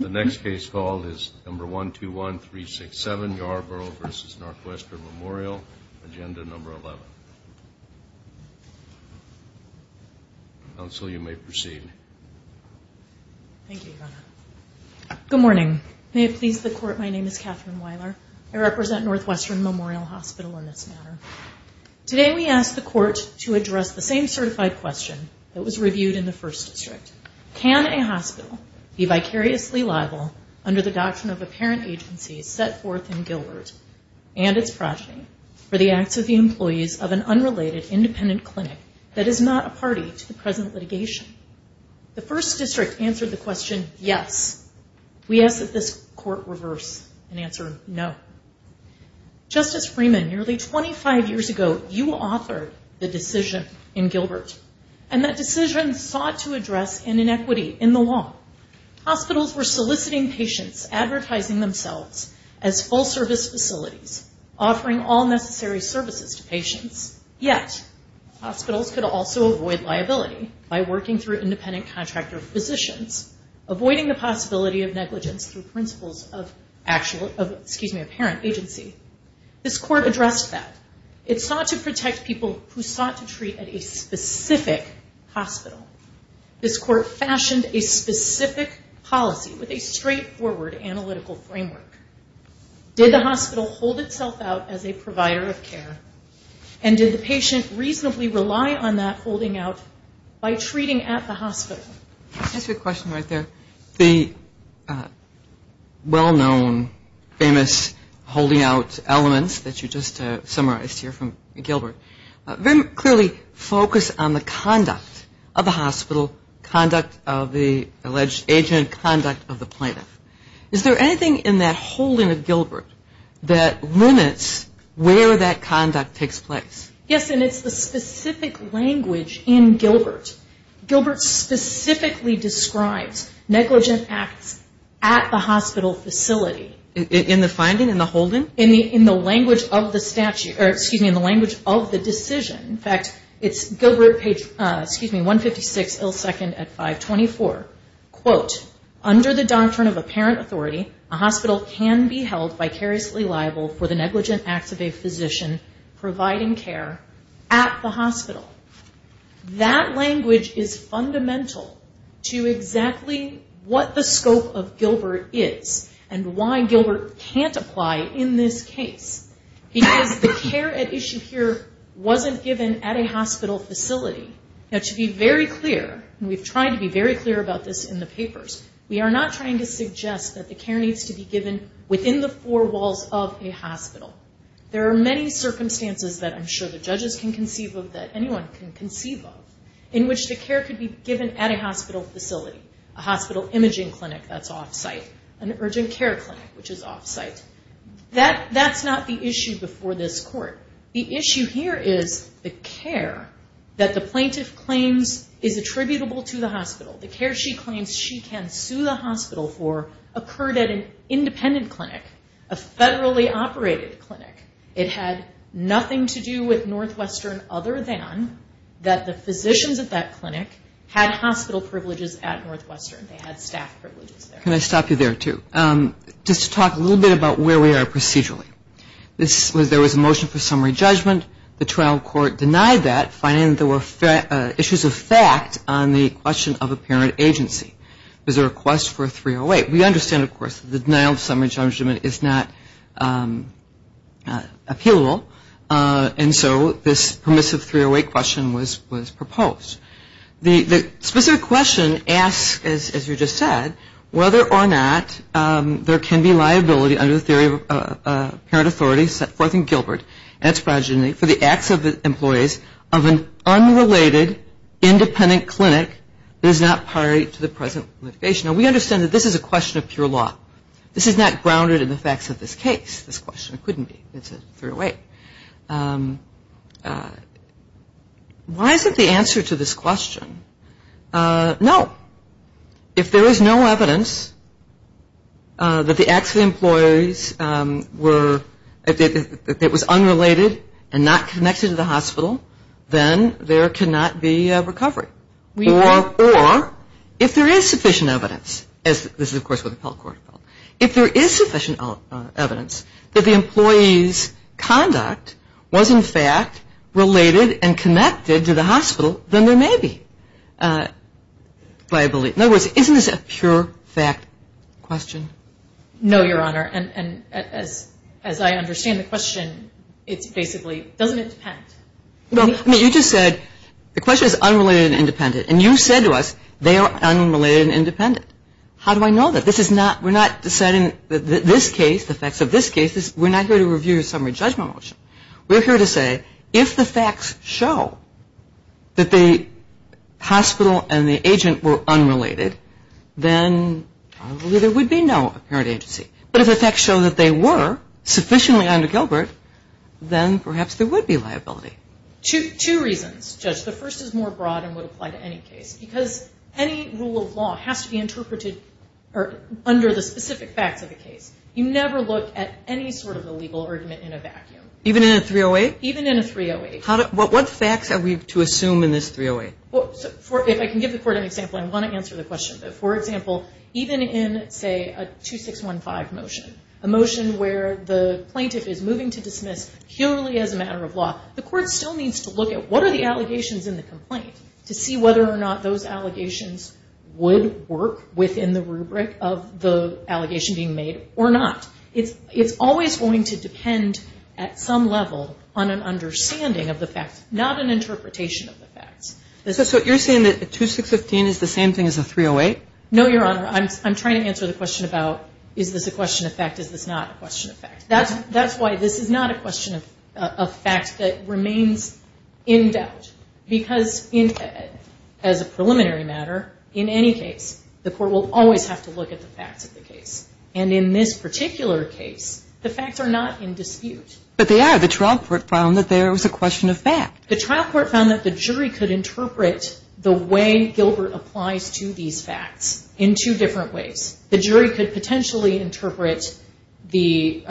The next case called is number 121367 Yarbrough v. Northwestern Memorial, agenda number 11. Counsel, you may proceed. Thank you, Your Honor. Good morning. May it please the Court, my name is Catherine Weiler. I represent Northwestern Memorial Hospital in this matter. Today we ask the Court to address the same certified question that was reviewed in the First District. Can a hospital be vicariously liable under the doctrine of a parent agency set forth in Gilbert and its progeny for the acts of the employees of an unrelated independent clinic that is not a party to the present litigation? The First District answered the question, yes. We ask that this Court reverse and answer, no. Justice Freeman, nearly 25 years ago you authored the decision in Gilbert. And that decision sought to address an inequity in the law. Hospitals were soliciting patients, advertising themselves as full service facilities, offering all necessary services to patients. Yet, hospitals could also avoid liability by working through independent contractor physicians, avoiding the possibility of negligence through principles of actual, excuse me, a parent agency. This Court addressed that. It sought to protect people who sought to treat at a specific hospital. This Court fashioned a specific policy with a straightforward analytical framework. Did the hospital hold itself out as a provider of care? And did the patient reasonably rely on that holding out by treating at the hospital? That's a good question right there. The well-known, famous holding out elements that you just summarized here from Gilbert, very clearly focus on the conduct of the hospital, conduct of the alleged agent, conduct of the plaintiff. Is there anything in that holding of Gilbert that limits where that conduct takes place? Yes, and it's the specific language in Gilbert. Gilbert specifically describes negligent acts at the hospital facility. In the finding, in the holding? In the language of the statute, or excuse me, in the language of the decision. In fact, it's Gilbert page, excuse me, 156, ill second at 524. Quote, under the doctrine of a parent authority, a hospital can be held vicariously liable for the negligent acts of a physician providing care at the hospital. That language is fundamental to exactly what the scope of Gilbert is, and why Gilbert can't apply in this case. Because the care at issue here wasn't given at a hospital facility. Now to be very clear, and we've tried to be very clear about this in the papers, we are not trying to suggest that the care needs to be given within the four walls of a hospital. There are many circumstances that I'm sure the judges can conceive of, that anyone can conceive of, in which the care could be given at a hospital facility. A hospital imaging clinic, that's off-site. An urgent care clinic, which is off-site. That's not the issue before this court. The issue here is the care that the plaintiff claims is attributable to the hospital. The care she claims she can sue the hospital for occurred at an independent clinic, a federally operated clinic. It had nothing to do with Northwestern other than that the physicians at that clinic had hospital privileges at Northwestern. They had staff privileges there. Can I stop you there too? Just to talk a little bit about where we are procedurally. There was a motion for summary judgment. The trial court denied that, finding that there were issues of fact on the question of apparent agency. There was a request for a 308. We understand, of course, the denial of summary judgment is not appealable, and so this permissive 308 question was proposed. The specific question asks, as you just said, whether or not there can be liability under the theory of apparent authority set forth in Gilbert and its progeny for the acts of the employees of an unrelated independent clinic that is not prior to the present litigation. Now, we understand that this is a question of pure law. This is not grounded in the facts of this case, this question. It couldn't be. It's a 308. Why isn't the answer to this question? No. If there is no evidence that the acts of the employees were, that it was unrelated and not connected to the hospital, then there cannot be a recovery. Or, if there is sufficient evidence, this is, of course, with the Pell Court, if there is sufficient evidence that the employees' conduct was in fact related and connected to the hospital, then there may be liability. In other words, isn't this a pure fact question? No, Your Honor, and as I understand the question, it's basically, doesn't it depend? Well, I mean, you just said, the question is unrelated and independent. And you said to us, they are unrelated and independent. How do I know that? This is not, we're not deciding that this case, the facts of this case, we're not here to review your summary judgment motion. We're here to say, if the facts show that the hospital and the agent were unrelated, then there would be no apparent agency. But if the facts show that they were sufficiently under Gilbert, then perhaps there would be liability. Two reasons, Judge. The first is more broad and would apply to any case. Because any rule of law has to be interpreted under the specific facts of the case. You never look at any sort of a legal argument in a vacuum. Even in a 308? Even in a 308. What facts are we to assume in this 308? If I can give the Court an example, I want to answer the question. For example, even in, say, a 2615 motion, a motion where the plaintiff is moving to dismiss, purely as a matter of law, the Court still needs to look at what are the allegations in the complaint to see whether or not those allegations would work within the rubric of the allegation being made or not. It's always going to depend at some level on an understanding of the facts, not an interpretation of the facts. So you're saying that a 2615 is the same thing as a 308? No, Your Honor. I'm trying to answer the question about is this a question of fact, is this not a question of fact? That's why this is not a question of fact that remains in doubt. Because as a preliminary matter, in any case, the Court will always have to look at the facts of the case. And in this particular case, the facts are not in dispute. But they are. The trial court found that there was a question of fact. The trial court found that the jury could interpret the way Gilbert applies to these facts in two different ways. The jury could potentially interpret the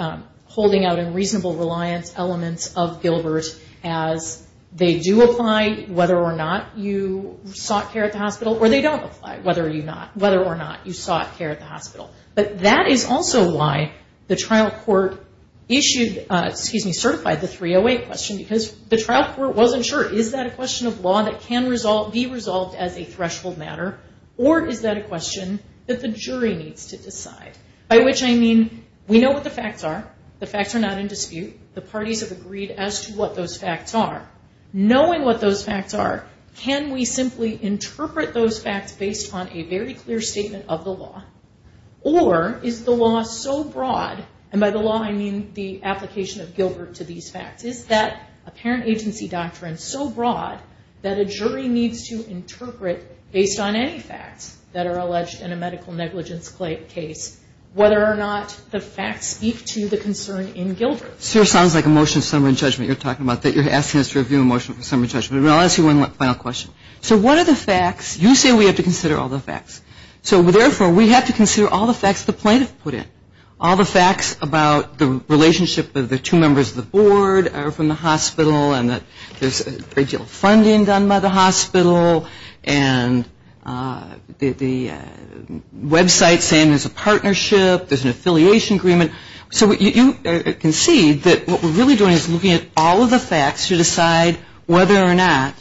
holding out and reasonable reliance elements of Gilbert as they do apply whether or not you sought care at the hospital or they don't apply whether or not you sought care at the hospital. But that is also why the trial court issued, excuse me, certified the 308 question because the trial court wasn't sure is that a question of law that can be resolved as a threshold matter or is that a question that the jury needs to decide? By which I mean, we know what the facts are. The facts are not in dispute. The parties have agreed as to what those facts are. Knowing what those facts are, can we simply interpret those facts based on a very clear statement of the law? Or is the law so broad, and by the law I mean the application of Gilbert to these facts, is that apparent agency doctrine so broad that a jury needs to interpret based on any facts that are alleged in a medical negligence case whether or not the facts speak to the concern in Gilbert? It sure sounds like a motion for summary judgment. You're asking us to review a motion for summary judgment. I'll ask you one final question. So what are the facts? You say we have to consider all the facts. So therefore we have to consider all the facts the plaintiff put in. All the facts about the relationship of the two members of the board are from the hospital and that there's a great deal of funding done by the hospital and the website saying there's a partnership, there's an affiliation agreement. So you concede that what we're really doing is looking at all of the facts to decide whether or not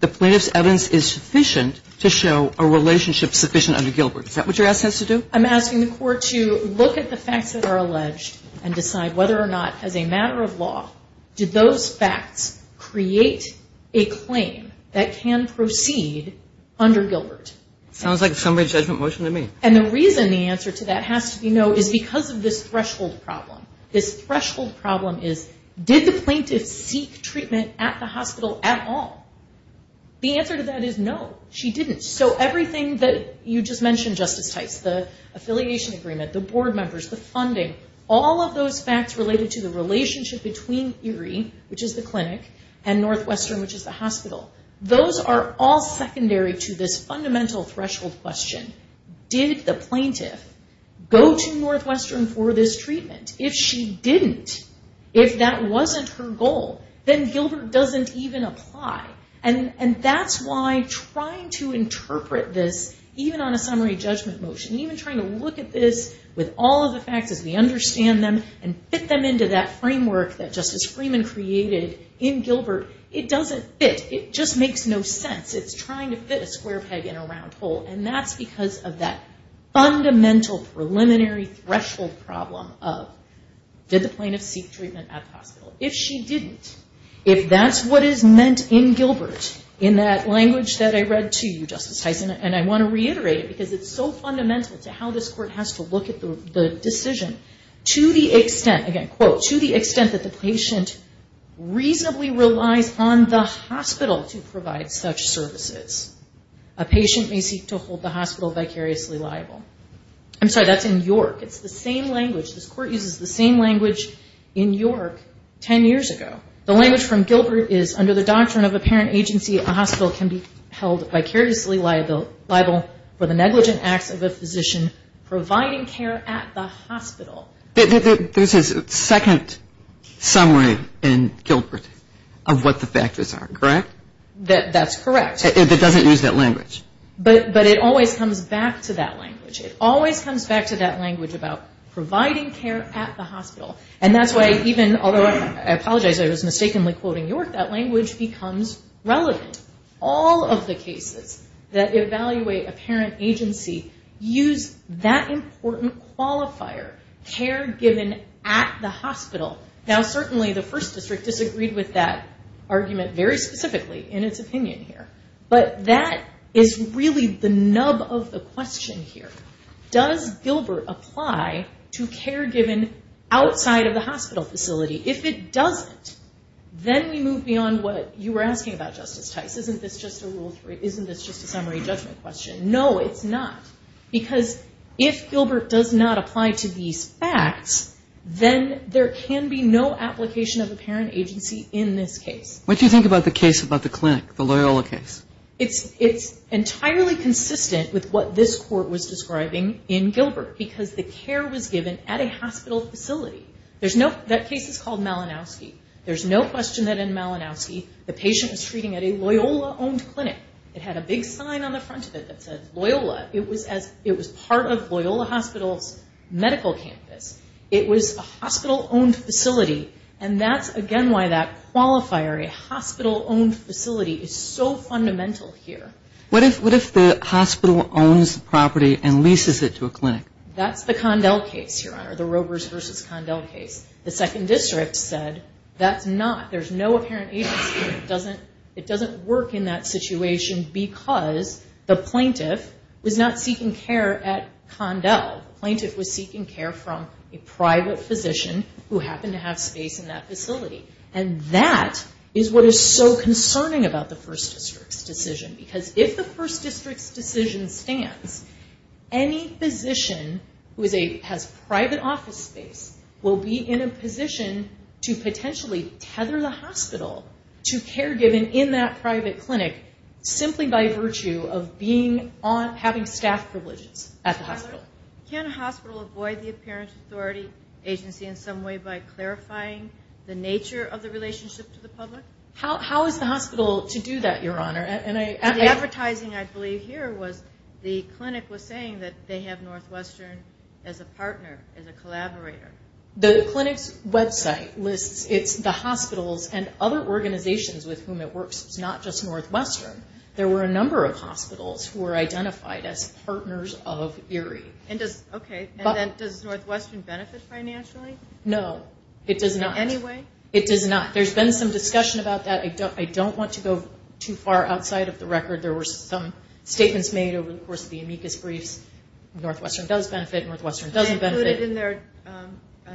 the plaintiff's evidence is sufficient to show a relationship sufficient under Gilbert. Is that what you're asking us to do? I'm asking the court to look at the facts that are alleged and decide whether or not as a matter of law did those facts create a claim that can proceed under Gilbert. Sounds like a summary judgment motion to me. And the reason the answer to that has to be no is because of this threshold problem. This threshold problem is did the plaintiff seek treatment at the hospital at all? The answer to that is no, she didn't. So everything that you just mentioned, Justice Tice, the affiliation agreement, the board members, the funding, all of those facts related to the relationship between Erie, which is the clinic, and Northwestern, which is the hospital, those are all secondary to this fundamental threshold question. Did the plaintiff go to Northwestern for this treatment? If she didn't, if that wasn't her goal, then Gilbert doesn't even apply. And that's why trying to interpret this, even on a summary judgment motion, even trying to look at this with all of the facts as we understand them and fit them into that framework that Justice Freeman created in Gilbert, it doesn't fit. It just makes no sense. It's trying to fit a square peg in a round hole. And that's because of that fundamental preliminary threshold problem of did the plaintiff seek treatment at the hospital? If she didn't, if that's what is meant in Gilbert, in that language that I read to you, Justice Tice, and I want to reiterate it because it's so fundamental to how this Court has to look at the decision, to the extent, again, quote, that a patient reasonably relies on the hospital to provide such services. A patient may seek to hold the hospital vicariously liable. I'm sorry, that's in York. It's the same language. This Court uses the same language in York 10 years ago. The language from Gilbert is under the doctrine of a parent agency, a hospital can be held vicariously liable for the negligent acts of a physician providing care at the hospital. There's a second summary in Gilbert of what the factors are, correct? That's correct. It doesn't use that language. But it always comes back to that language. It always comes back to that language about providing care at the hospital. And that's why even, although I apologize, I was mistakenly quoting York, that language becomes relevant. All of the cases that evaluate a parent agency use that important qualifier, care given at the hospital. Now certainly the First District disagreed with that argument very specifically in its opinion here. But that is really the nub of the question here. Does Gilbert apply to care given outside of the hospital facility? If it doesn't, then we move beyond what you were asking about Justice Tice. No, it's not. Because if Gilbert does not apply to these facts, then there can be no application of a parent agency in this case. What do you think about the case about the clinic, the Loyola case? It's entirely consistent with what this Court was describing in Gilbert because the care was given at a hospital facility. That case is called Malinowski. There's no question that in Malinowski the patient is treating at a Loyola-owned clinic. It had a big sign on the front of it that said Loyola. It was part of Loyola Hospital's campus. It was a hospital-owned facility. And that's again why that qualifier, a hospital-owned facility, is so fundamental here. What if the hospital owns the property and leases it to a clinic? That's the Condell case, Your Honor, the Robers v. Condell case. The Second District said that's not. There's no apparent agency. It doesn't work in that situation because the plaintiff was not seeking care at Condell. The plaintiff was seeking care from a private physician who happened to have space in that facility. And that is what is so concerning about the First District's decision because if the First District's decision stands, any physician who has private office space will be in a position to potentially tether the hospital to care given in that private clinic simply by virtue of being on, having staff privileges at the hospital. Can a hospital avoid the apparent authority agency in some way by clarifying the nature of the relationship to the public? How is the hospital to do that, Your Honor? The advertising I believe here was the clinic was saying that they have Northwestern as a partner, as a collaborator. The clinic's website lists it's the hospitals and other organizations with whom it works. It's not just Northwestern. There were a number of hospitals who were identified as partners of ERIE. Okay. Does Northwestern benefit financially? No. It does not. In any way? It does not. There's been some discussion about that. I don't want to go too far outside of the record. There were some statements made over the course of the amicus briefs. Northwestern does benefit. Northwestern doesn't benefit. Are they included in their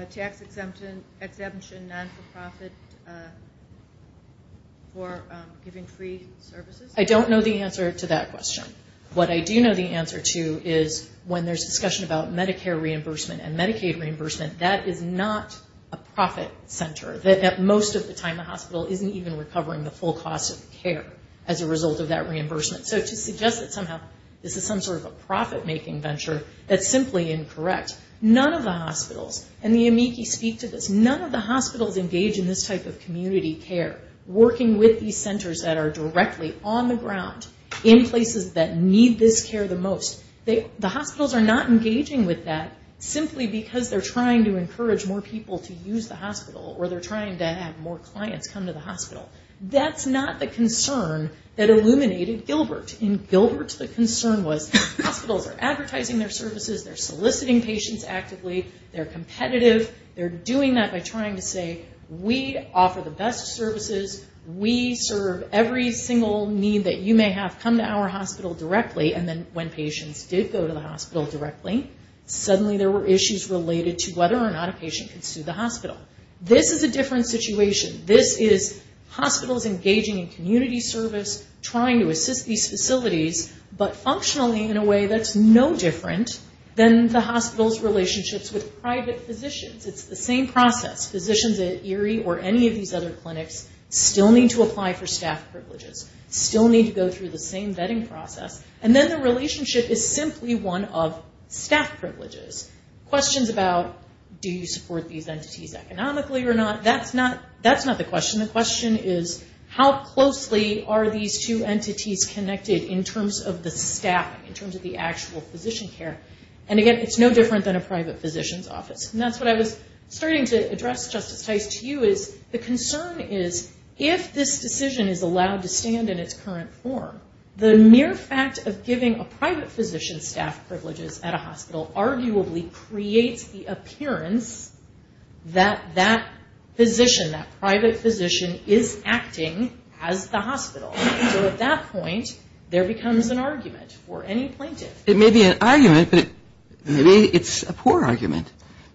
tax exemption, non-for-profit, for giving free services? I don't know the answer to that question. What I do know the answer to is when there's discussion about Medicare reimbursement and Medicaid reimbursement, that is not a profit center. That at most of the time, a hospital isn't even recovering the full cost of care as a result of that reimbursement. So to suggest that somehow this is some sort of a profit-making venture, that's simply incorrect. None of the hospitals, and the amici speak to this, none of the hospitals engage in this type of community care, working with these centers that are directly on the ground in places that need this care the most. The hospitals are not engaging with that simply because they're trying to encourage more people to use the hospital or they're trying to have more clients come to the hospital. That's not the concern that illuminated Gilbert. In Gilbert, the concern was hospitals are advertising their services, they're soliciting patients actively, they're competitive, they're doing that by trying to say, we offer the best services, we serve every single need that you may have come to our hospital directly, and then when patients did go to the hospital directly, suddenly there were issues related to whether or not a patient could sue the hospital. This is a different situation. This is hospitals engaging in community service, trying to assist these facilities, but functionally in a way that's no different than the hospital's relationships with private physicians. It's the same process. Physicians at Erie or any of these other clinics still need to apply for staff privileges, still need to go through the same vetting process, and then the relationship is simply one of staff privileges. Questions about, do you support these entities economically or not? That's not the question. The question is, how closely are these two entities connected in terms of the staffing, in terms of the actual physician care? Again, it's no different than a private physician's office. That's what I was starting to address, Justice Tice, to you is, the concern is, if this decision is allowed to stand in its current form, the mere fact of giving a private physician staff privileges at a hospital arguably creates the appearance that that physician, that private physician, is acting as the hospital. So at that point, there becomes an argument for any plaintiff. It may be an argument, but maybe it's a poor argument.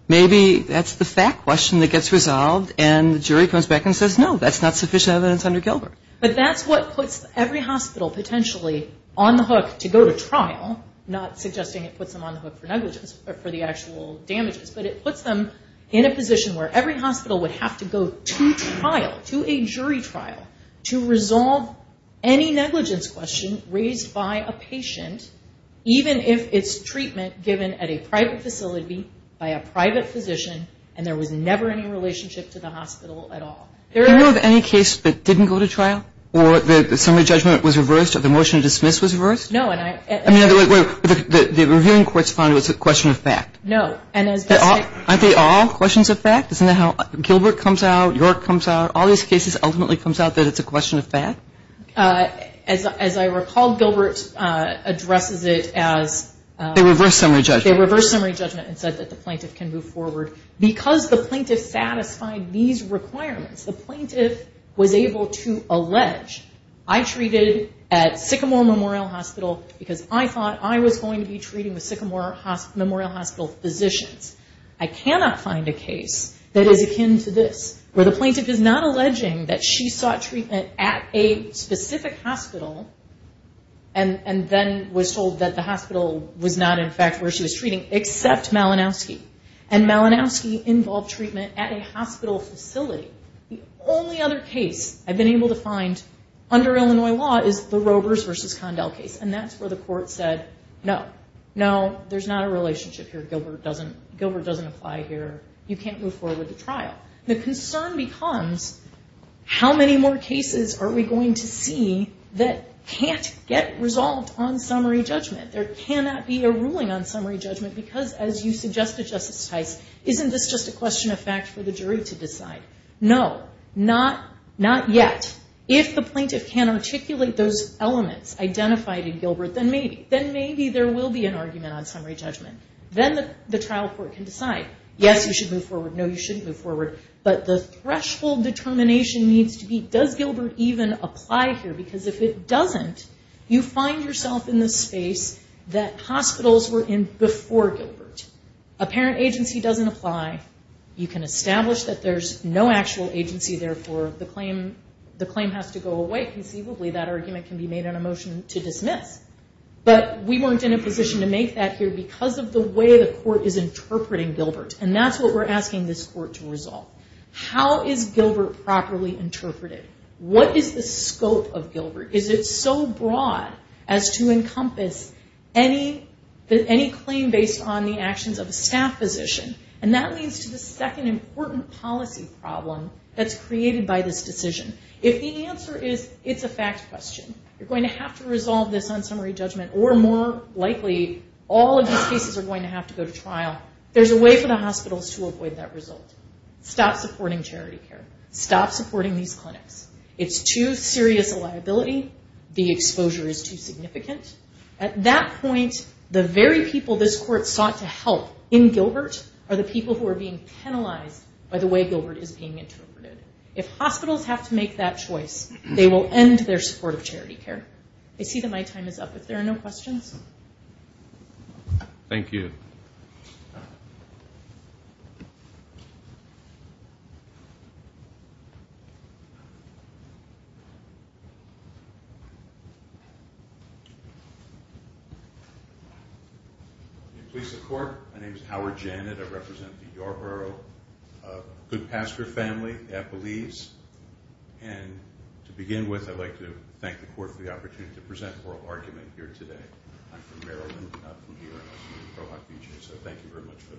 Maybe that's the fact question that gets resolved and the jury comes back and says, no, that's not sufficient evidence under Gilbert. But that's what puts every hospital, potentially, on the hook to go to trial, not suggesting it puts them on the hook for negligence, but for the actual damages. But it puts them in a position where every hospital would have to go to trial, to a jury trial, to resolve any negligence question raised by a patient, even if it's treatment given at a private facility by a private physician and there was never any relationship to the hospital at all. Do you know of any case that didn't go to trial or the summary judgment was reversed or the motion to dismiss was reversed? No. I mean, the reviewing court found it was a question of fact. No. Aren't they all questions of fact? Isn't that how Gilbert comes out, York comes out, all these cases ultimately comes out that it's a question of fact? As I recall, Gilbert addresses it as They reversed summary judgment. They reversed summary judgment and said that the plaintiff can move forward because the plaintiff satisfied these requirements. The plaintiff was able to allege I treated at Sycamore Memorial Hospital because I thought I was going to be treating with Sycamore Memorial Hospital physicians. I cannot find a case that is akin to this where the plaintiff is not alleging that she sought treatment at a specific hospital and then was told that the hospital was not in fact where she was treating except Malinowski and Malinowski involved treatment at a hospital facility. The only other case I've been able to find under Illinois law is the Robers versus Condell case and that's where the court said no, no, there's not a relationship here. Gilbert doesn't apply here. You can't move forward with the trial. The concern becomes how many more cases are we going to see that can't get resolved on summary judgment? There cannot be a ruling on summary judgment because as you suggested Justice Tice, isn't this just a question of fact for the jury to decide? No, not yet. If the plaintiff can articulate those elements identified in Gilbert then maybe. Then maybe there will be an argument on summary judgment. Then the trial court can decide. Yes, you should move forward. No, you shouldn't move forward. But the threshold determination needs to be does Gilbert even apply here because if it doesn't you find yourself in the space that hospitals were in before Gilbert. A parent agency doesn't apply. You can establish that there's no actual agency therefore the claim has to go away. Conceivably that argument can be made on a motion to dismiss. But we weren't in a position to make that here because of the way the court is interpreting Gilbert. And that's what we're asking this court to resolve. How is Gilbert properly interpreted? What is the scope of Gilbert? Is it so broad as to encompass any claim based on the actions of a staff physician? And that leads to the second important policy problem that's created by this decision. If the answer is it's a fact question you're going to have to resolve this on summary judgment or more likely all of these cases are going to have to go to trial. There's a way for the hospitals to avoid that result. Stop supporting charity care. Stop supporting these clinics. It's too serious a liability. The exposure is too significant. At that point the very people this court sought to help in Gilbert are the people who are being penalized by the way Gilbert is being interpreted. If hospitals have to make that choice they will end their support of charity care. I see that my time is up if there are no questions. Thank you. My name is Howard Janet. I represent the Yarborough Goodpasture family at Belize. And to begin with I'd like to thank the court for the opportunity to present oral argument here today. I'm from Maryland not from here so thank you very much for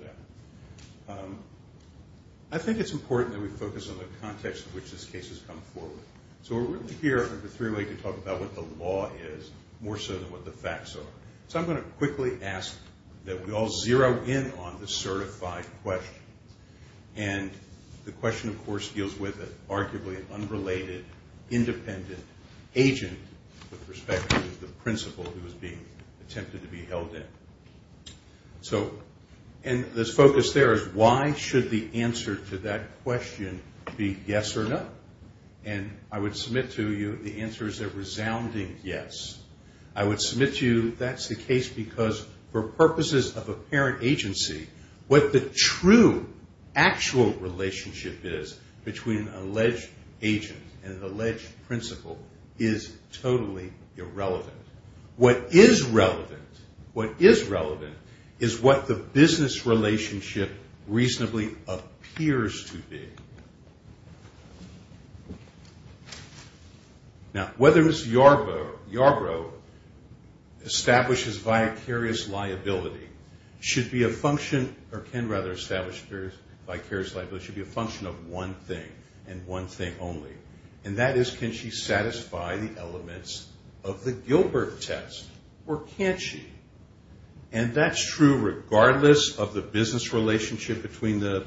that. I think it's important that we focus on the context in which this case So we're really here at the three-way to talk about what the law is more so than what the facts are. So I'm going to quickly ask that we all zero in on the certified question. And the question of course deals with arguably an unrelated independent agent with respect to the principle that was being attempted to be held in. So and the focus there is why should the answer to that question be yes or no? And I would submit to you the answer is a resounding yes. I would submit to you that's the case because for purposes of apparent agency what the true actual relationship is between an alleged agent and an alleged principle is totally irrelevant. What is relevant is what the business relationship reasonably appears to be. Now whether Mr. Yarbrough establishes via vicarious liability should be a function or can rather establish vicarious liability should be a function of one thing and one thing only. And that is can she satisfy the elements of the Gilbert test or can't she? And that's true regardless of the business relationship between the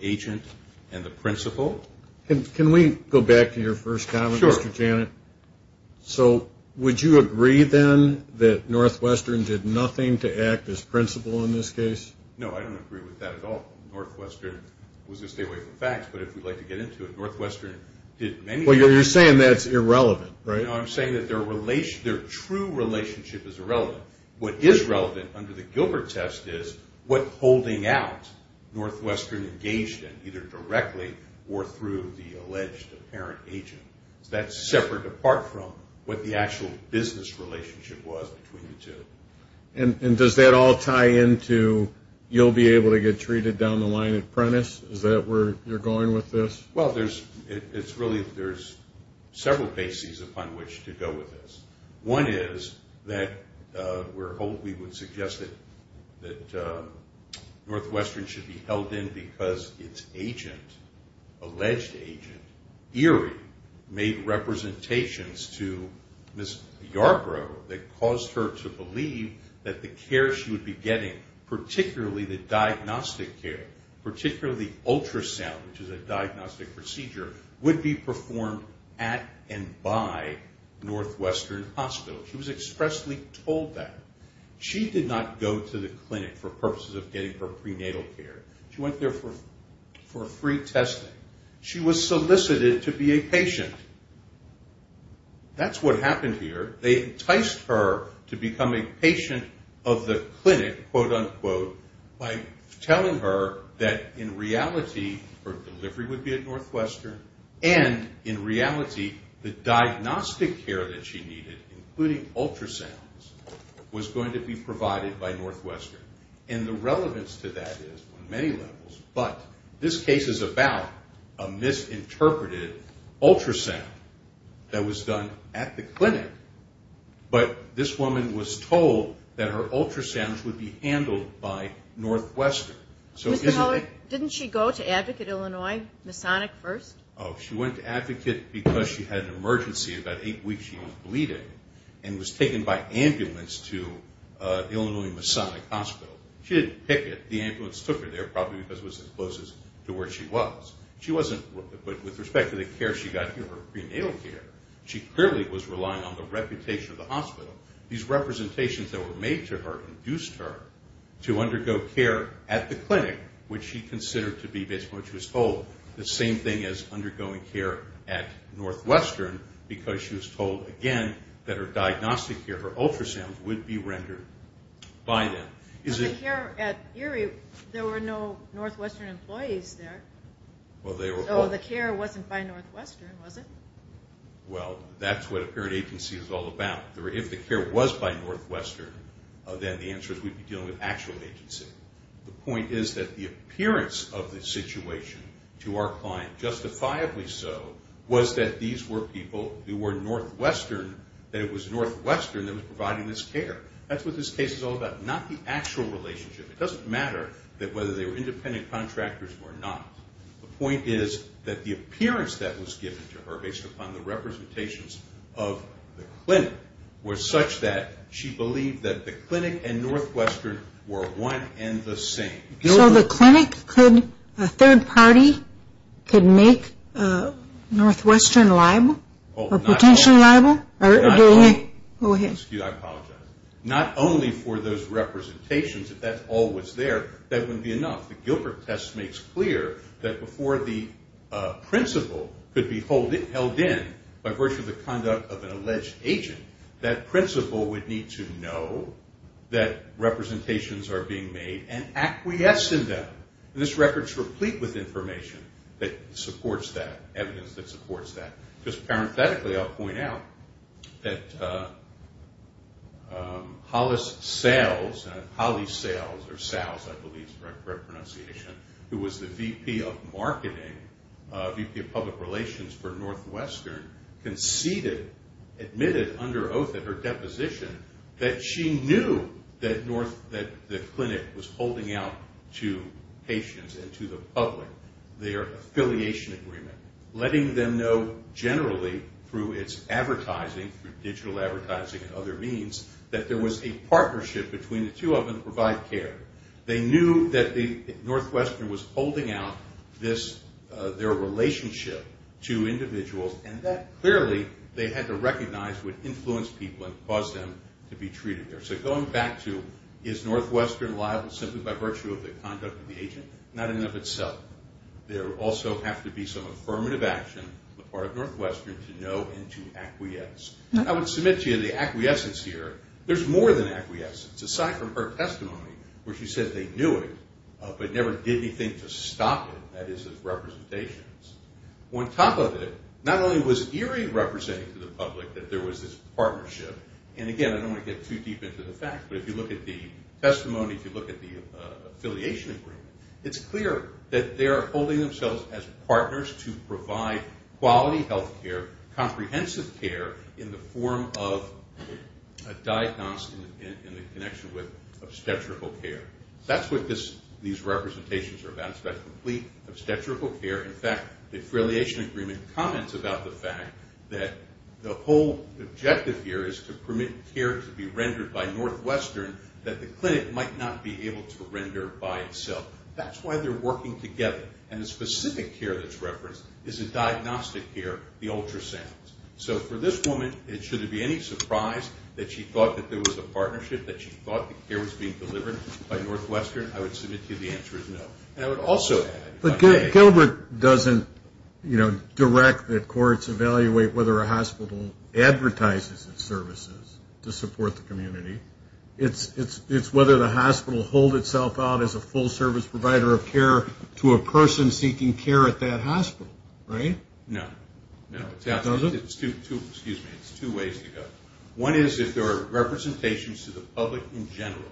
agent and the principle. Can we go back to your first comment Mr. Janet? So would you agree then that Northwestern did nothing to act as principle in this case? No, I don't agree with that at all. Northwestern was a state of facts but if we'd like to get into it, Northwestern did many things. Well you're saying that's irrelevant, right? No, I'm saying that their true relationship is irrelevant. What is relevant under the Gilbert test is what holding out Northwestern engaged in either directly or through the alleged apparent agent. That's separate apart from what the actual business relationship was between the two. And does that all tie into you'll be able to get treated down the line at Prentice? Is that where you're going with this? Well there's several bases upon which to go with this. One is that we would suggest that Northwestern should be held in because its agent, alleged agent, Erie, made representations to Ms. Yarbrough that caused her to believe that the care she would be getting, particularly the diagnostic care, particularly ultrasound, which is a diagnostic procedure, would be performed at and by Northwestern Hospital. She was expressly told that. She did not go to the clinic for purposes of getting her prenatal care. She went there for free testing. She was solicited to be a patient. That's what happened here. They enticed her to become a patient of the clinic, quote unquote, by telling her that in reality her delivery would be at Northwestern and in reality the ultrasound was going to be provided by Northwestern. And the relevance to that is, on many levels, but this case is about a misinterpreted ultrasound that was done at the clinic. But this woman was told that her ultrasound would be handled by Northwestern. So isn't it... Ms. Miller, didn't she go to Illinois Masonic Hospital? She didn't pick it. The ambulance took her there probably because it was the closest to where she was. She wasn't... But with respect to the care she got here, her prenatal care, she clearly was relying on the reputation of the hospital. These representations that were there not going to be rendered by them. Here at Erie, there were no Northwestern employees there. So the care wasn't by Northwestern, was it? Well, that's what a parent agency is all about. If the care was by Northwestern, then the answer is we'd be dealing with independent contractor. That's what this case is all about, not the actual relationship. It doesn't matter that whether they were independent contractors or not. The point is that the appearance that was given to her based upon the representations of the clinic was such that she believed that the clinic and Northwestern were independent contractors. I apologize. Not only for those representations, if that's always there, that wouldn't be enough. The Gilbert test makes clear that before the principle could be held in by virtue of the conduct of an alleged agent, that principle would need to know that representations are being made and acquiesce in that. This record is replete with information that supports that, evidence that supports that. Just parenthetically, I'll point out that Hollis Sales, Holly Sales, or Sales, I believe is the correct pronunciation, who was the VP of Marketing, VP of Public Relations for Northwestern, conceded, admitted under oath at her deposition, that she knew that North, that the clinic was holding out to patients and to the public, their affiliation agreement, letting them know generally through its advertising, through digital advertising and other means, that there was a partnership between the two of them to provide care. They knew that Northwestern was holding out their relationship to individuals and that to is Northwestern liable simply by virtue of the conduct of the agent? Not in and of itself. There also have to be some affirmative action on the part of Northwestern to know and to acquiesce. I would submit to you the acquiescence here. There's more than acquiescence. Aside from her testimony where she said they knew it, but never did anything to stop it, that is as representations, on top of it not only was Erie representing to the public that there was this partnership and again, I don't want to get too deep into the facts, but if you look at the testimony, if you look at the affiliation agreement, it's clear that they're holding themselves as partners to provide quality health care, comprehensive care, in the form of a diagnostic in the connection with obstetrical care. That's what these representations are about. It's about complete obstetrical care. In fact, the affiliation agreement comments about the fact that the whole objective here is to permit care to be rendered by Northwestern that the clinic might not be able to render by itself. That's why they're working together, and the specific care that's referenced is in diagnostic care, the So for this woman, it shouldn't be any surprise that she thought that there was a partnership, that she thought the care was being delivered by Northwestern. I would submit to you the answer is no. And I would also add... But Gilbert doesn't direct that courts evaluate whether a hospital advertises its services to support the community. It's whether the hospital holds itself out as a full service provider of care to a person seeking care at that hospital, right? No. It's two ways to go. One is if there are representations to the public in general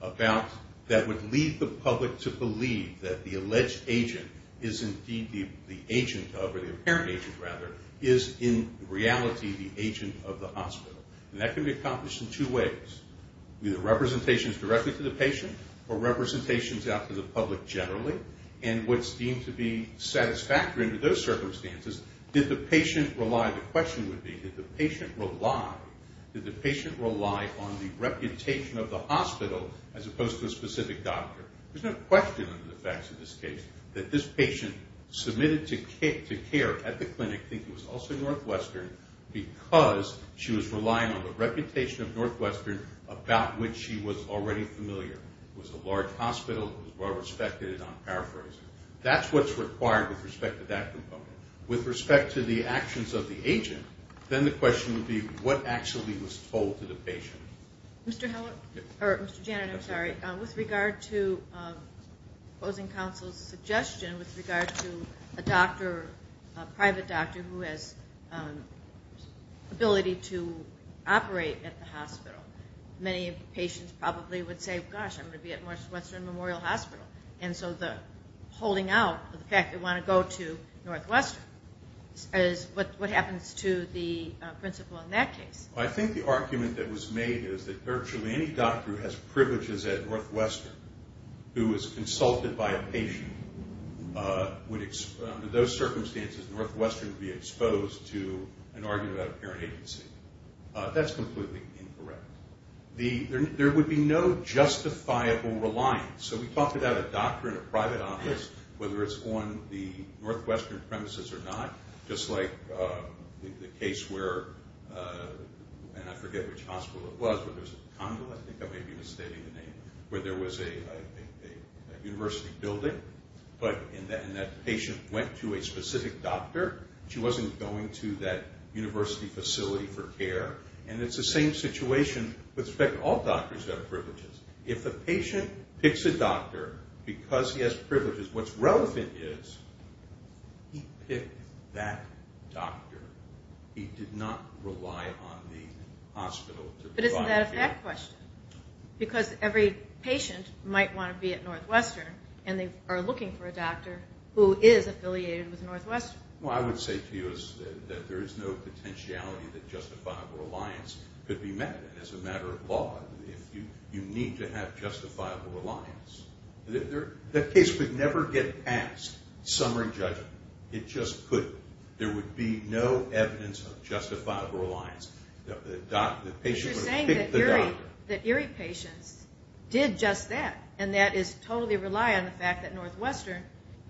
about that would lead the public to believe that the alleged agent is indeed the agent of, or the apparent agent rather, is in reality the agent of the hospital. And that can be accomplished in two ways. Either representations directly to the patient or representations out to the public generally. And what's deemed to be satisfactory under those circumstances, did the patient rely... The question would be, did the patient rely on the reputation of the hospital as opposed to a specific doctor? There's no question in the facts of this case that this patient submitted to care at the clinic because she was relying on the reputation of Northwestern about which she was already familiar. It was a large hospital, it was well respected, and I'm paraphrasing. That's what's required with respect to that component. With respect to the actions of the agent, then the question would be what actually was told to the patient. Mr. Kessler, I think you were proposing counsel's suggestion with regard to a doctor, a private doctor who has ability to operate at the hospital. Many patients probably would say, gosh, I'm going to be at Northwestern Memorial Hospital, and so the holding out of the fact they want to go to Northwestern is what happens to the principal in that case. I think the argument that was made is that virtually any doctor who has privileges at Northwestern who is consulted by a patient would, under those circumstances, Northwestern would be exposed to an argument about a parent agency. That's completely incorrect. There would be no justifiable reliance. So we talked about a doctor in a private office, whether it's on the Northwestern premises or not, just like the case where, and I forget which hospital it was, where there was a university building, but in that patient went to a specific doctor. She wasn't going to that university facility for care. And it's the same situation with respect to all doctors who have privileges. If a patient picks a doctor because he has privileges, what's relevant is he picked that doctor. He did not rely on the hospital to provide care. But isn't that a fact question? Because every patient might want to be affiliated with Northwestern, and they are looking for a doctor who is affiliated with Northwestern. Well, I would say to you that there is no potentiality that justifiable reliance could be met as a matter of law. You need to have justifiable reliance. That case would never get passed summary judgment. It just couldn't. There would be no evidence of justifiable reliance. The patient would have picked the doctor. You're saying that Erie patients did just that, and that is totally reliant on the fact that Northwestern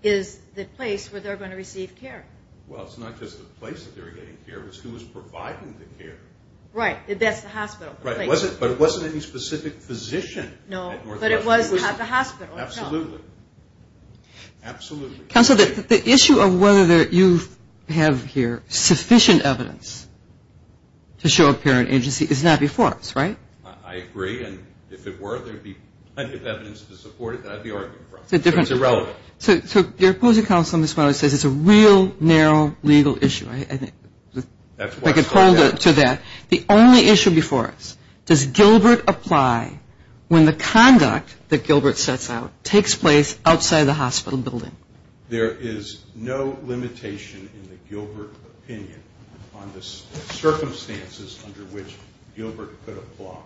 is the place where they're going to receive care. Well, it's not just the place that they were getting care. It was the hospital that was providing the care. Right. That's the hospital. But it wasn't any specific physician at Northwestern. No, but it was at the hospital. Absolutely. Absolutely. Counsel, the issue of whether you have here sufficient evidence to show apparent agency is not before us, right? I agree, and if it were, there would be plenty of evidence to support it that I would be arguing for. So it's irrelevant. So your opposing counsel says it's a real narrow legal issue. The only issue before us, does Gilbert apply when the conduct that Gilbert sets out takes place outside the hospital does not apply.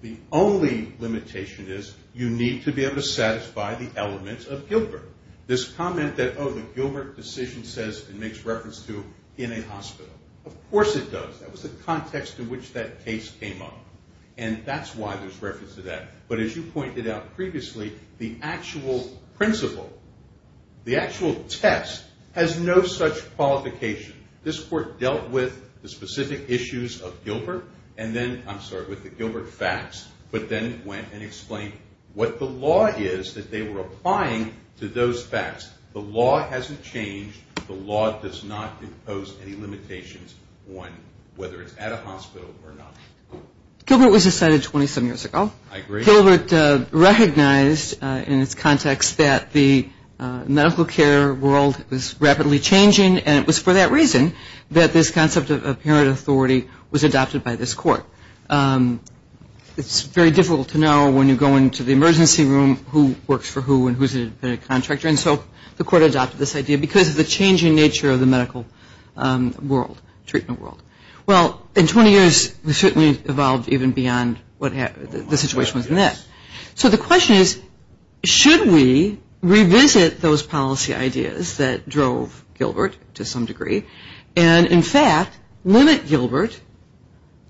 The only limitation is you need to be able to satisfy the elements of Gilbert. This comment that, oh, the Gilbert decision says it makes reference to in a hospital. Of course it does. That was the context in which that case came up, and that's why there's reference to that. But as you pointed out previously, the actual principle, the actual test, has no such qualification. This Court dealt with the specific issues of Gilbert, and then, I'm sorry, with the Gilbert facts, but then went and explained what the law is that they were applying to those facts. The law hasn't changed. The law does not change. So Gilbert recognized in its context that the medical care world was rapidly changing, and it was for that reason that this concept of parent authority was adopted by this Court. It's very difficult to know when you go into the emergency room who works for who and who's an independent contractor. And so the Court adopted this idea because of the changing nature of the medical world, treatment world. Well, in 20 years, we certainly evolved even beyond what the situation was then. So the question is, should we revisit those policy ideas that drove Gilbert to some degree, and in fact, limit Gilbert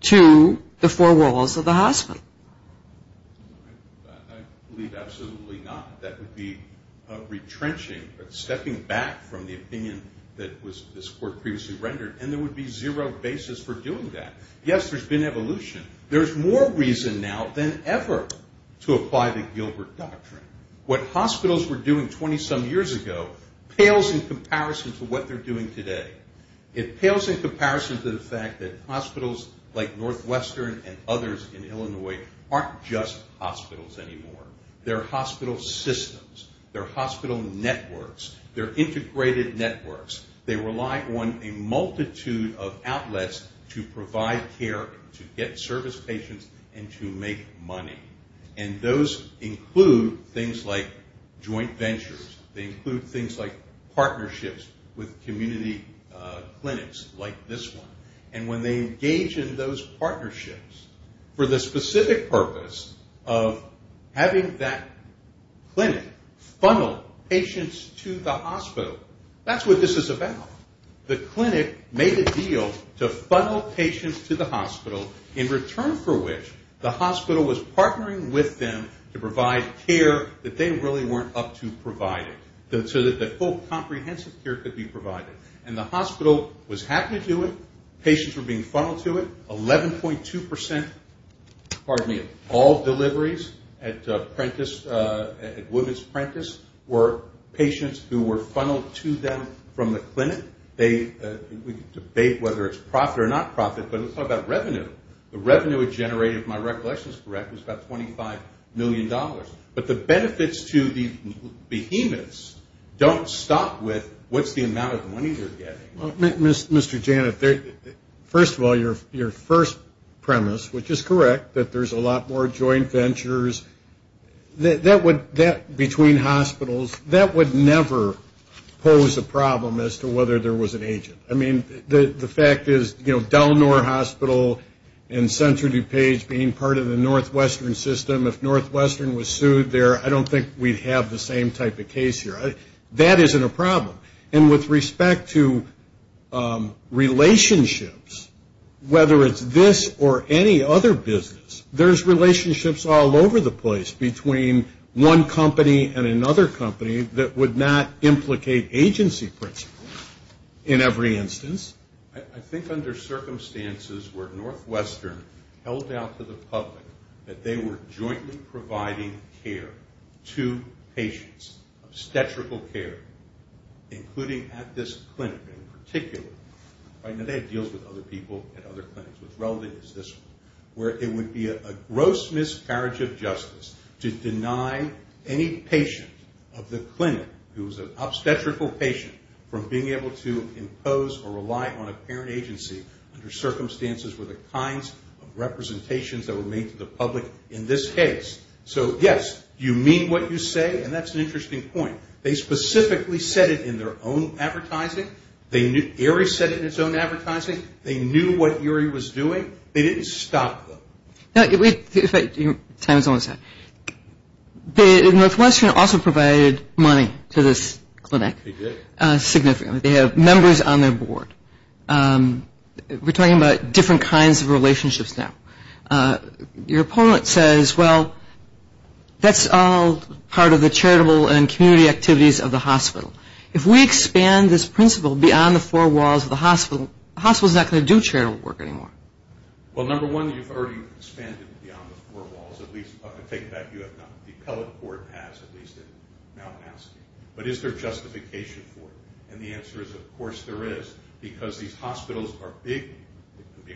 to the four walls of the hospital? I believe absolutely not. That would be retrenching, stepping back from the opinion that this Court previously rendered, and there would be zero basis for doing that. Yes, there's been evolution. There's more reason now than ever to apply the Gilbert doctrine. What hospitals were doing 20-some years ago pales in comparison to what they're doing today. It pales in comparison to what they're doing today. They're not just hospitals anymore. They're hospital systems. They're hospital networks. They're integrated networks. They rely on a multitude of outlets to provide care, to get service patients, and to make money. And those include things like joint ventures. They include things like partnerships with community clinics like this one. And when they engage in those partnerships for the specific purpose of having that clinic funnel patients to the hospital, that's what this is about. The clinic made a deal to funnel patients to the hospital in return for which the hospital was partnering with them to provide care that they really weren't up to providing. So that the full comprehensive care could be provided. And the hospital was happy to do it. Patients were being funneled to it. 11.2 percent of all deliveries at Women's Prentice were patients who were funneled to them from the clinic. We debate whether it's profit or not profit, but we're talking about revenue. The revenue generated, if my recollection is correct, was about $25 million. But the benefits to the behemoths don't stop with what's the amount of money they're getting. Well, Mr. Janet, first of all, your first premise, which is correct, that there's a lot more joint ventures, between hospitals, that would never pose a problem as to whether there was an agent. I mean, the fact is, you know, Del Nor Hospital and Center DuPage being part of the Northwestern system, if Northwestern was sued there, I don't think we'd have the same type of case here. That isn't a problem. And with respect to relationships, whether it's this or any other business, there's relationships all over the place between one company and another company that would not implicate agency principles in every instance. I think under circumstances where Northwestern held out to the public that they were jointly providing care to patients, obstetrical care, including at this clinic in particular. They had deals with other people at other clinics, where it would be a gross miscarriage of justice to deny any patient of the clinic who was an obstetrical patient from being able to impose or rely on a parent agency under circumstances where the kinds of representations that were made to the public in this case. So, yes, you mean what you say, and that's an interesting point. They specifically said it in their own advertising. They knew what URI was doing. They didn't stop them. The Northwestern also provided money to this clinic significantly. They have members on their board. We're not do charity work anymore. That's all part of the charitable and community activities of the hospital. If we expand this principle beyond the four walls of the hospital, the hospital is not going to do charitable work anymore. Well, number one, you've already expanded beyond the four walls. But is there justification for it? And the answer is, of course, there is, because these hospitals are big,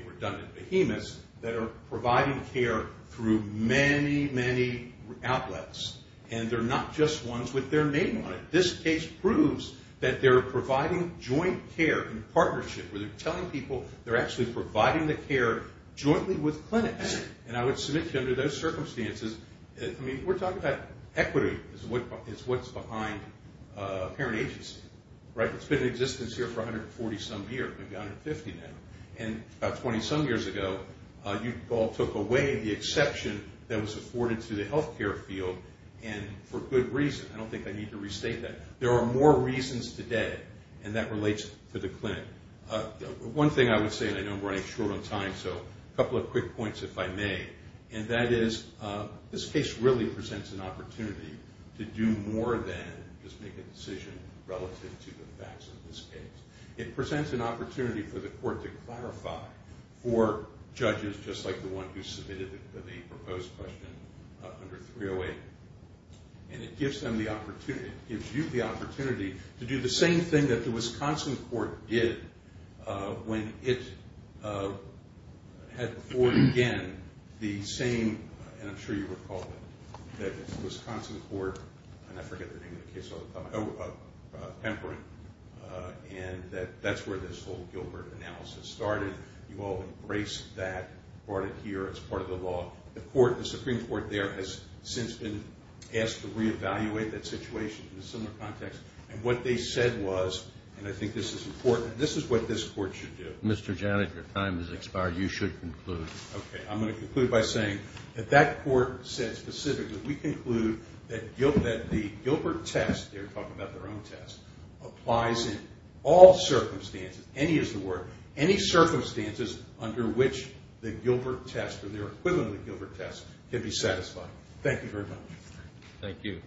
redundant behemoths that are providing care through many, many outlets, and they're not just ones with their name on it. This case proves that they're providing joint care in partnership, where they're telling people they're actually providing the care jointly with clinics. And I would submit to you under those circumstances, I mean, we're talking about equity is what's behind parent agency, right? It's been in existence here for 140-some years, maybe 150 now. And about 150 years ago, there were more reasons today, and that relates to the clinic. One thing I would say, and I know I'm running short on time, so a couple of quick points if I may, and that is this case really presents an opportunity to do more than just make a decision relative to the facts of this case. It presents an opportunity for the court to clarify for judges just like the one who submitted the proposed question under 308, and it gives you the opportunity to do the same thing that the Wisconsin court did when it had before again the same, and I'm sure you recall that Wisconsin court, and I forget the name of the case, Pemperin, and that's where this whole Gilbert analysis started. You all embraced that part of here as part of the law. The Supreme Court there has since been asked to reevaluate that situation in a similar context, and what they said was, and I think this is important, this is what this court should do. Mr. Janet, your time has expired. You should conclude. Okay. I'm going to conclude by saying that that court said specifically we conclude that the Gilbert test, they're talking about their own test, applies in all circumstances, any is the word, any circumstances under which the Gilbert test, or their equivalent of the Gilbert test can be satisfied. Thank you very much. Thank you.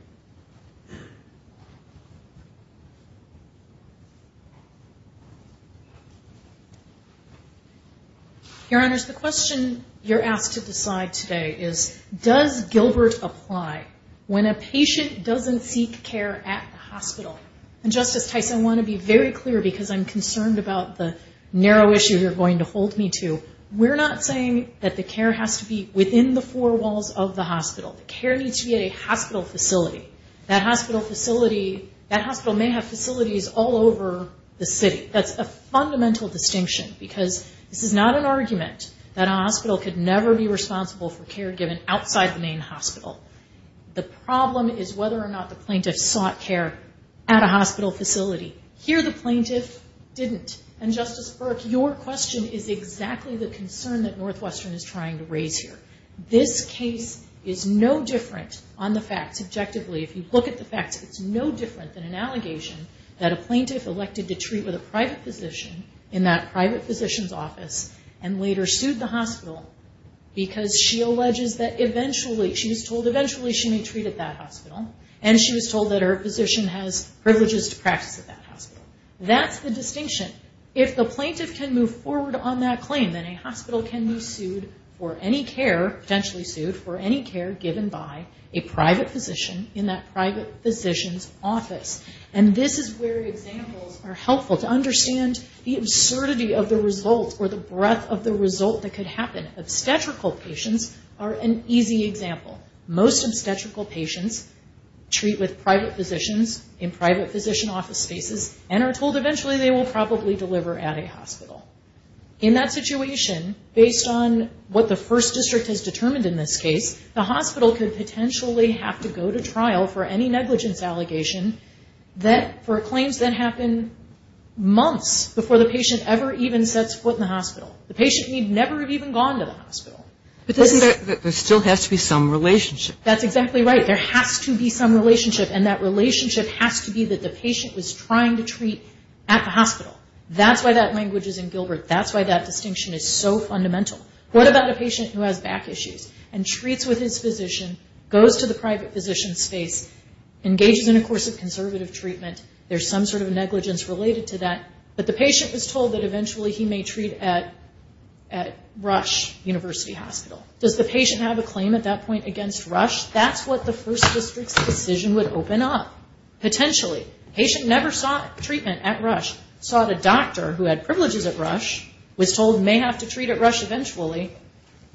Your Honor, the question you're asked to decide today is, does Gilbert apply when a patient doesn't seek care at the hospital? And Justice Tyson, I want to be very clear because I'm concerned about the I'm not saying that the care has to be within the four walls of the hospital. The care needs to be at a hospital facility. That hospital facility, that hospital may have facilities all over the city. That's a fundamental distinction because this is not an argument that a hospital could never be responsible for care at the That's the distinction that Northwestern is trying to raise here. This case is no different on the facts objectively. If you look at the facts, it's no different than an allegation that a plaintiff elected to treat with a private physician in that private physician's office and later sued the hospital because she alleges that eventually, she was told eventually she may treat at that hospital and she was told that her physician has privileges to practice at that hospital. That's the distinction. If the plaintiff can move forward on that claim, then a hospital can be sued for any care, potentially sued for any care given by a private physician in that private physician's office. This is where examples are helpful to understand the absurdity of the results or the breadth of the result that could happen. Obstetrical patients are an easy example. Most obstetrical patients treat with private physicians in private physician office spaces and are told that they could potentially have to go to trial for any negligence allegation for claims that happen months before the patient ever even sets foot in the hospital. The patient may never have even gone to the hospital. There still has to be some relationship. That's exactly right. There has to be some relationship and that relationship has to be that the patient was trying to treat at the hospital. That's why that language is in Gilbert. That's why that distinction is so fundamental. What about a patient who has back issues and treats with his physician, goes to the private physician space, engages in a course of conservative treatment, there's some sort of negligence related to that, but the patient was told that eventually he may treat at Rush University Hospital. Does the patient have a claim at that point against Rush? That's what the First District's decision would open up. Potentially. The patient never saw treatment at Rush, saw the doctor who had privileges at Rush, was told may have to treat at Rush eventually.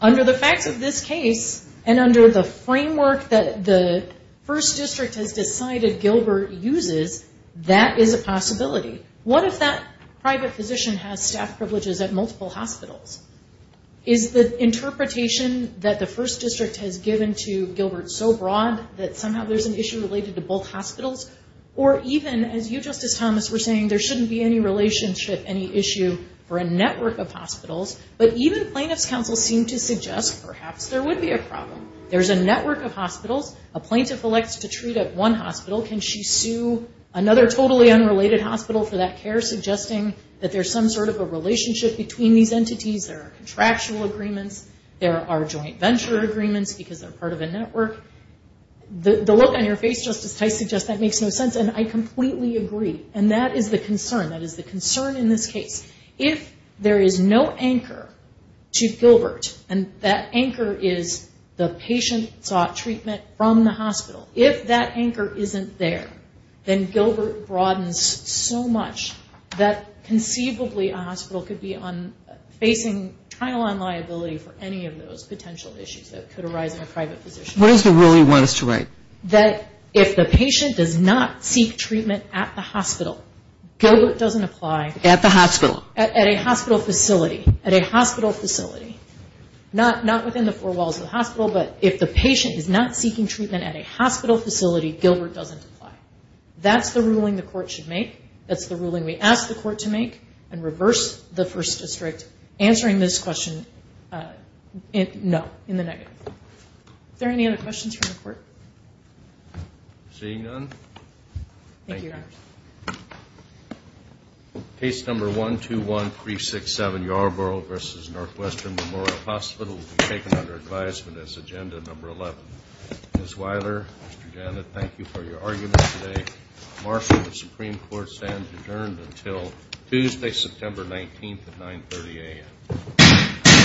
Under the facts of this case and under the framework that the First District has decided Gilbert uses, that is a possibility. What if that private physician has staff privileges at multiple hospitals? Is the interpretation that the First District has given to Gilbert so broad that somehow there's an issue related to both hospitals? Or even, as you, Justice Thomas, were saying, there shouldn't be any relationship, any issue for a network of hospitals, but even plaintiff's counsel seem to suggest perhaps there would be a problem. There's a network of hospitals. A plaintiff elects to treat at one hospital. Can she sue another totally unrelated hospital for that care suggesting that there's some sort of a relationship between these entities? There are contractual agreements. There are joint venture agreements because they're part of a network. The look on your face, Justice Tice, suggests that makes no sense. And I completely agree. And that is the concern. That is the concern in this case. If there is no anchor to Gilbert, and that anchor is the patient sought treatment from the hospital, if that anchor isn't there, then Gilbert broadens so much that conceivably a hospital could be on facing trial on liability for any of those potential issues that could arise in a private physician. What is the rule you want us to write? That if the patient does not seek treatment at the hospital, Gilbert doesn't apply at a hospital facility. Not within the four walls of the hospital, but if the patient is not seeking treatment the four walls of the hospital, then Gilbert not apply. If the patient does not seek treatment within the four walls of the hospital, then Gilbert does not apply. If of the hospital, then Gilbert does not apply. If the patient does not seek treatment within the four walls patient does not seek treatment within the four walls of the hospital, then Gilbert does not apply. If the patient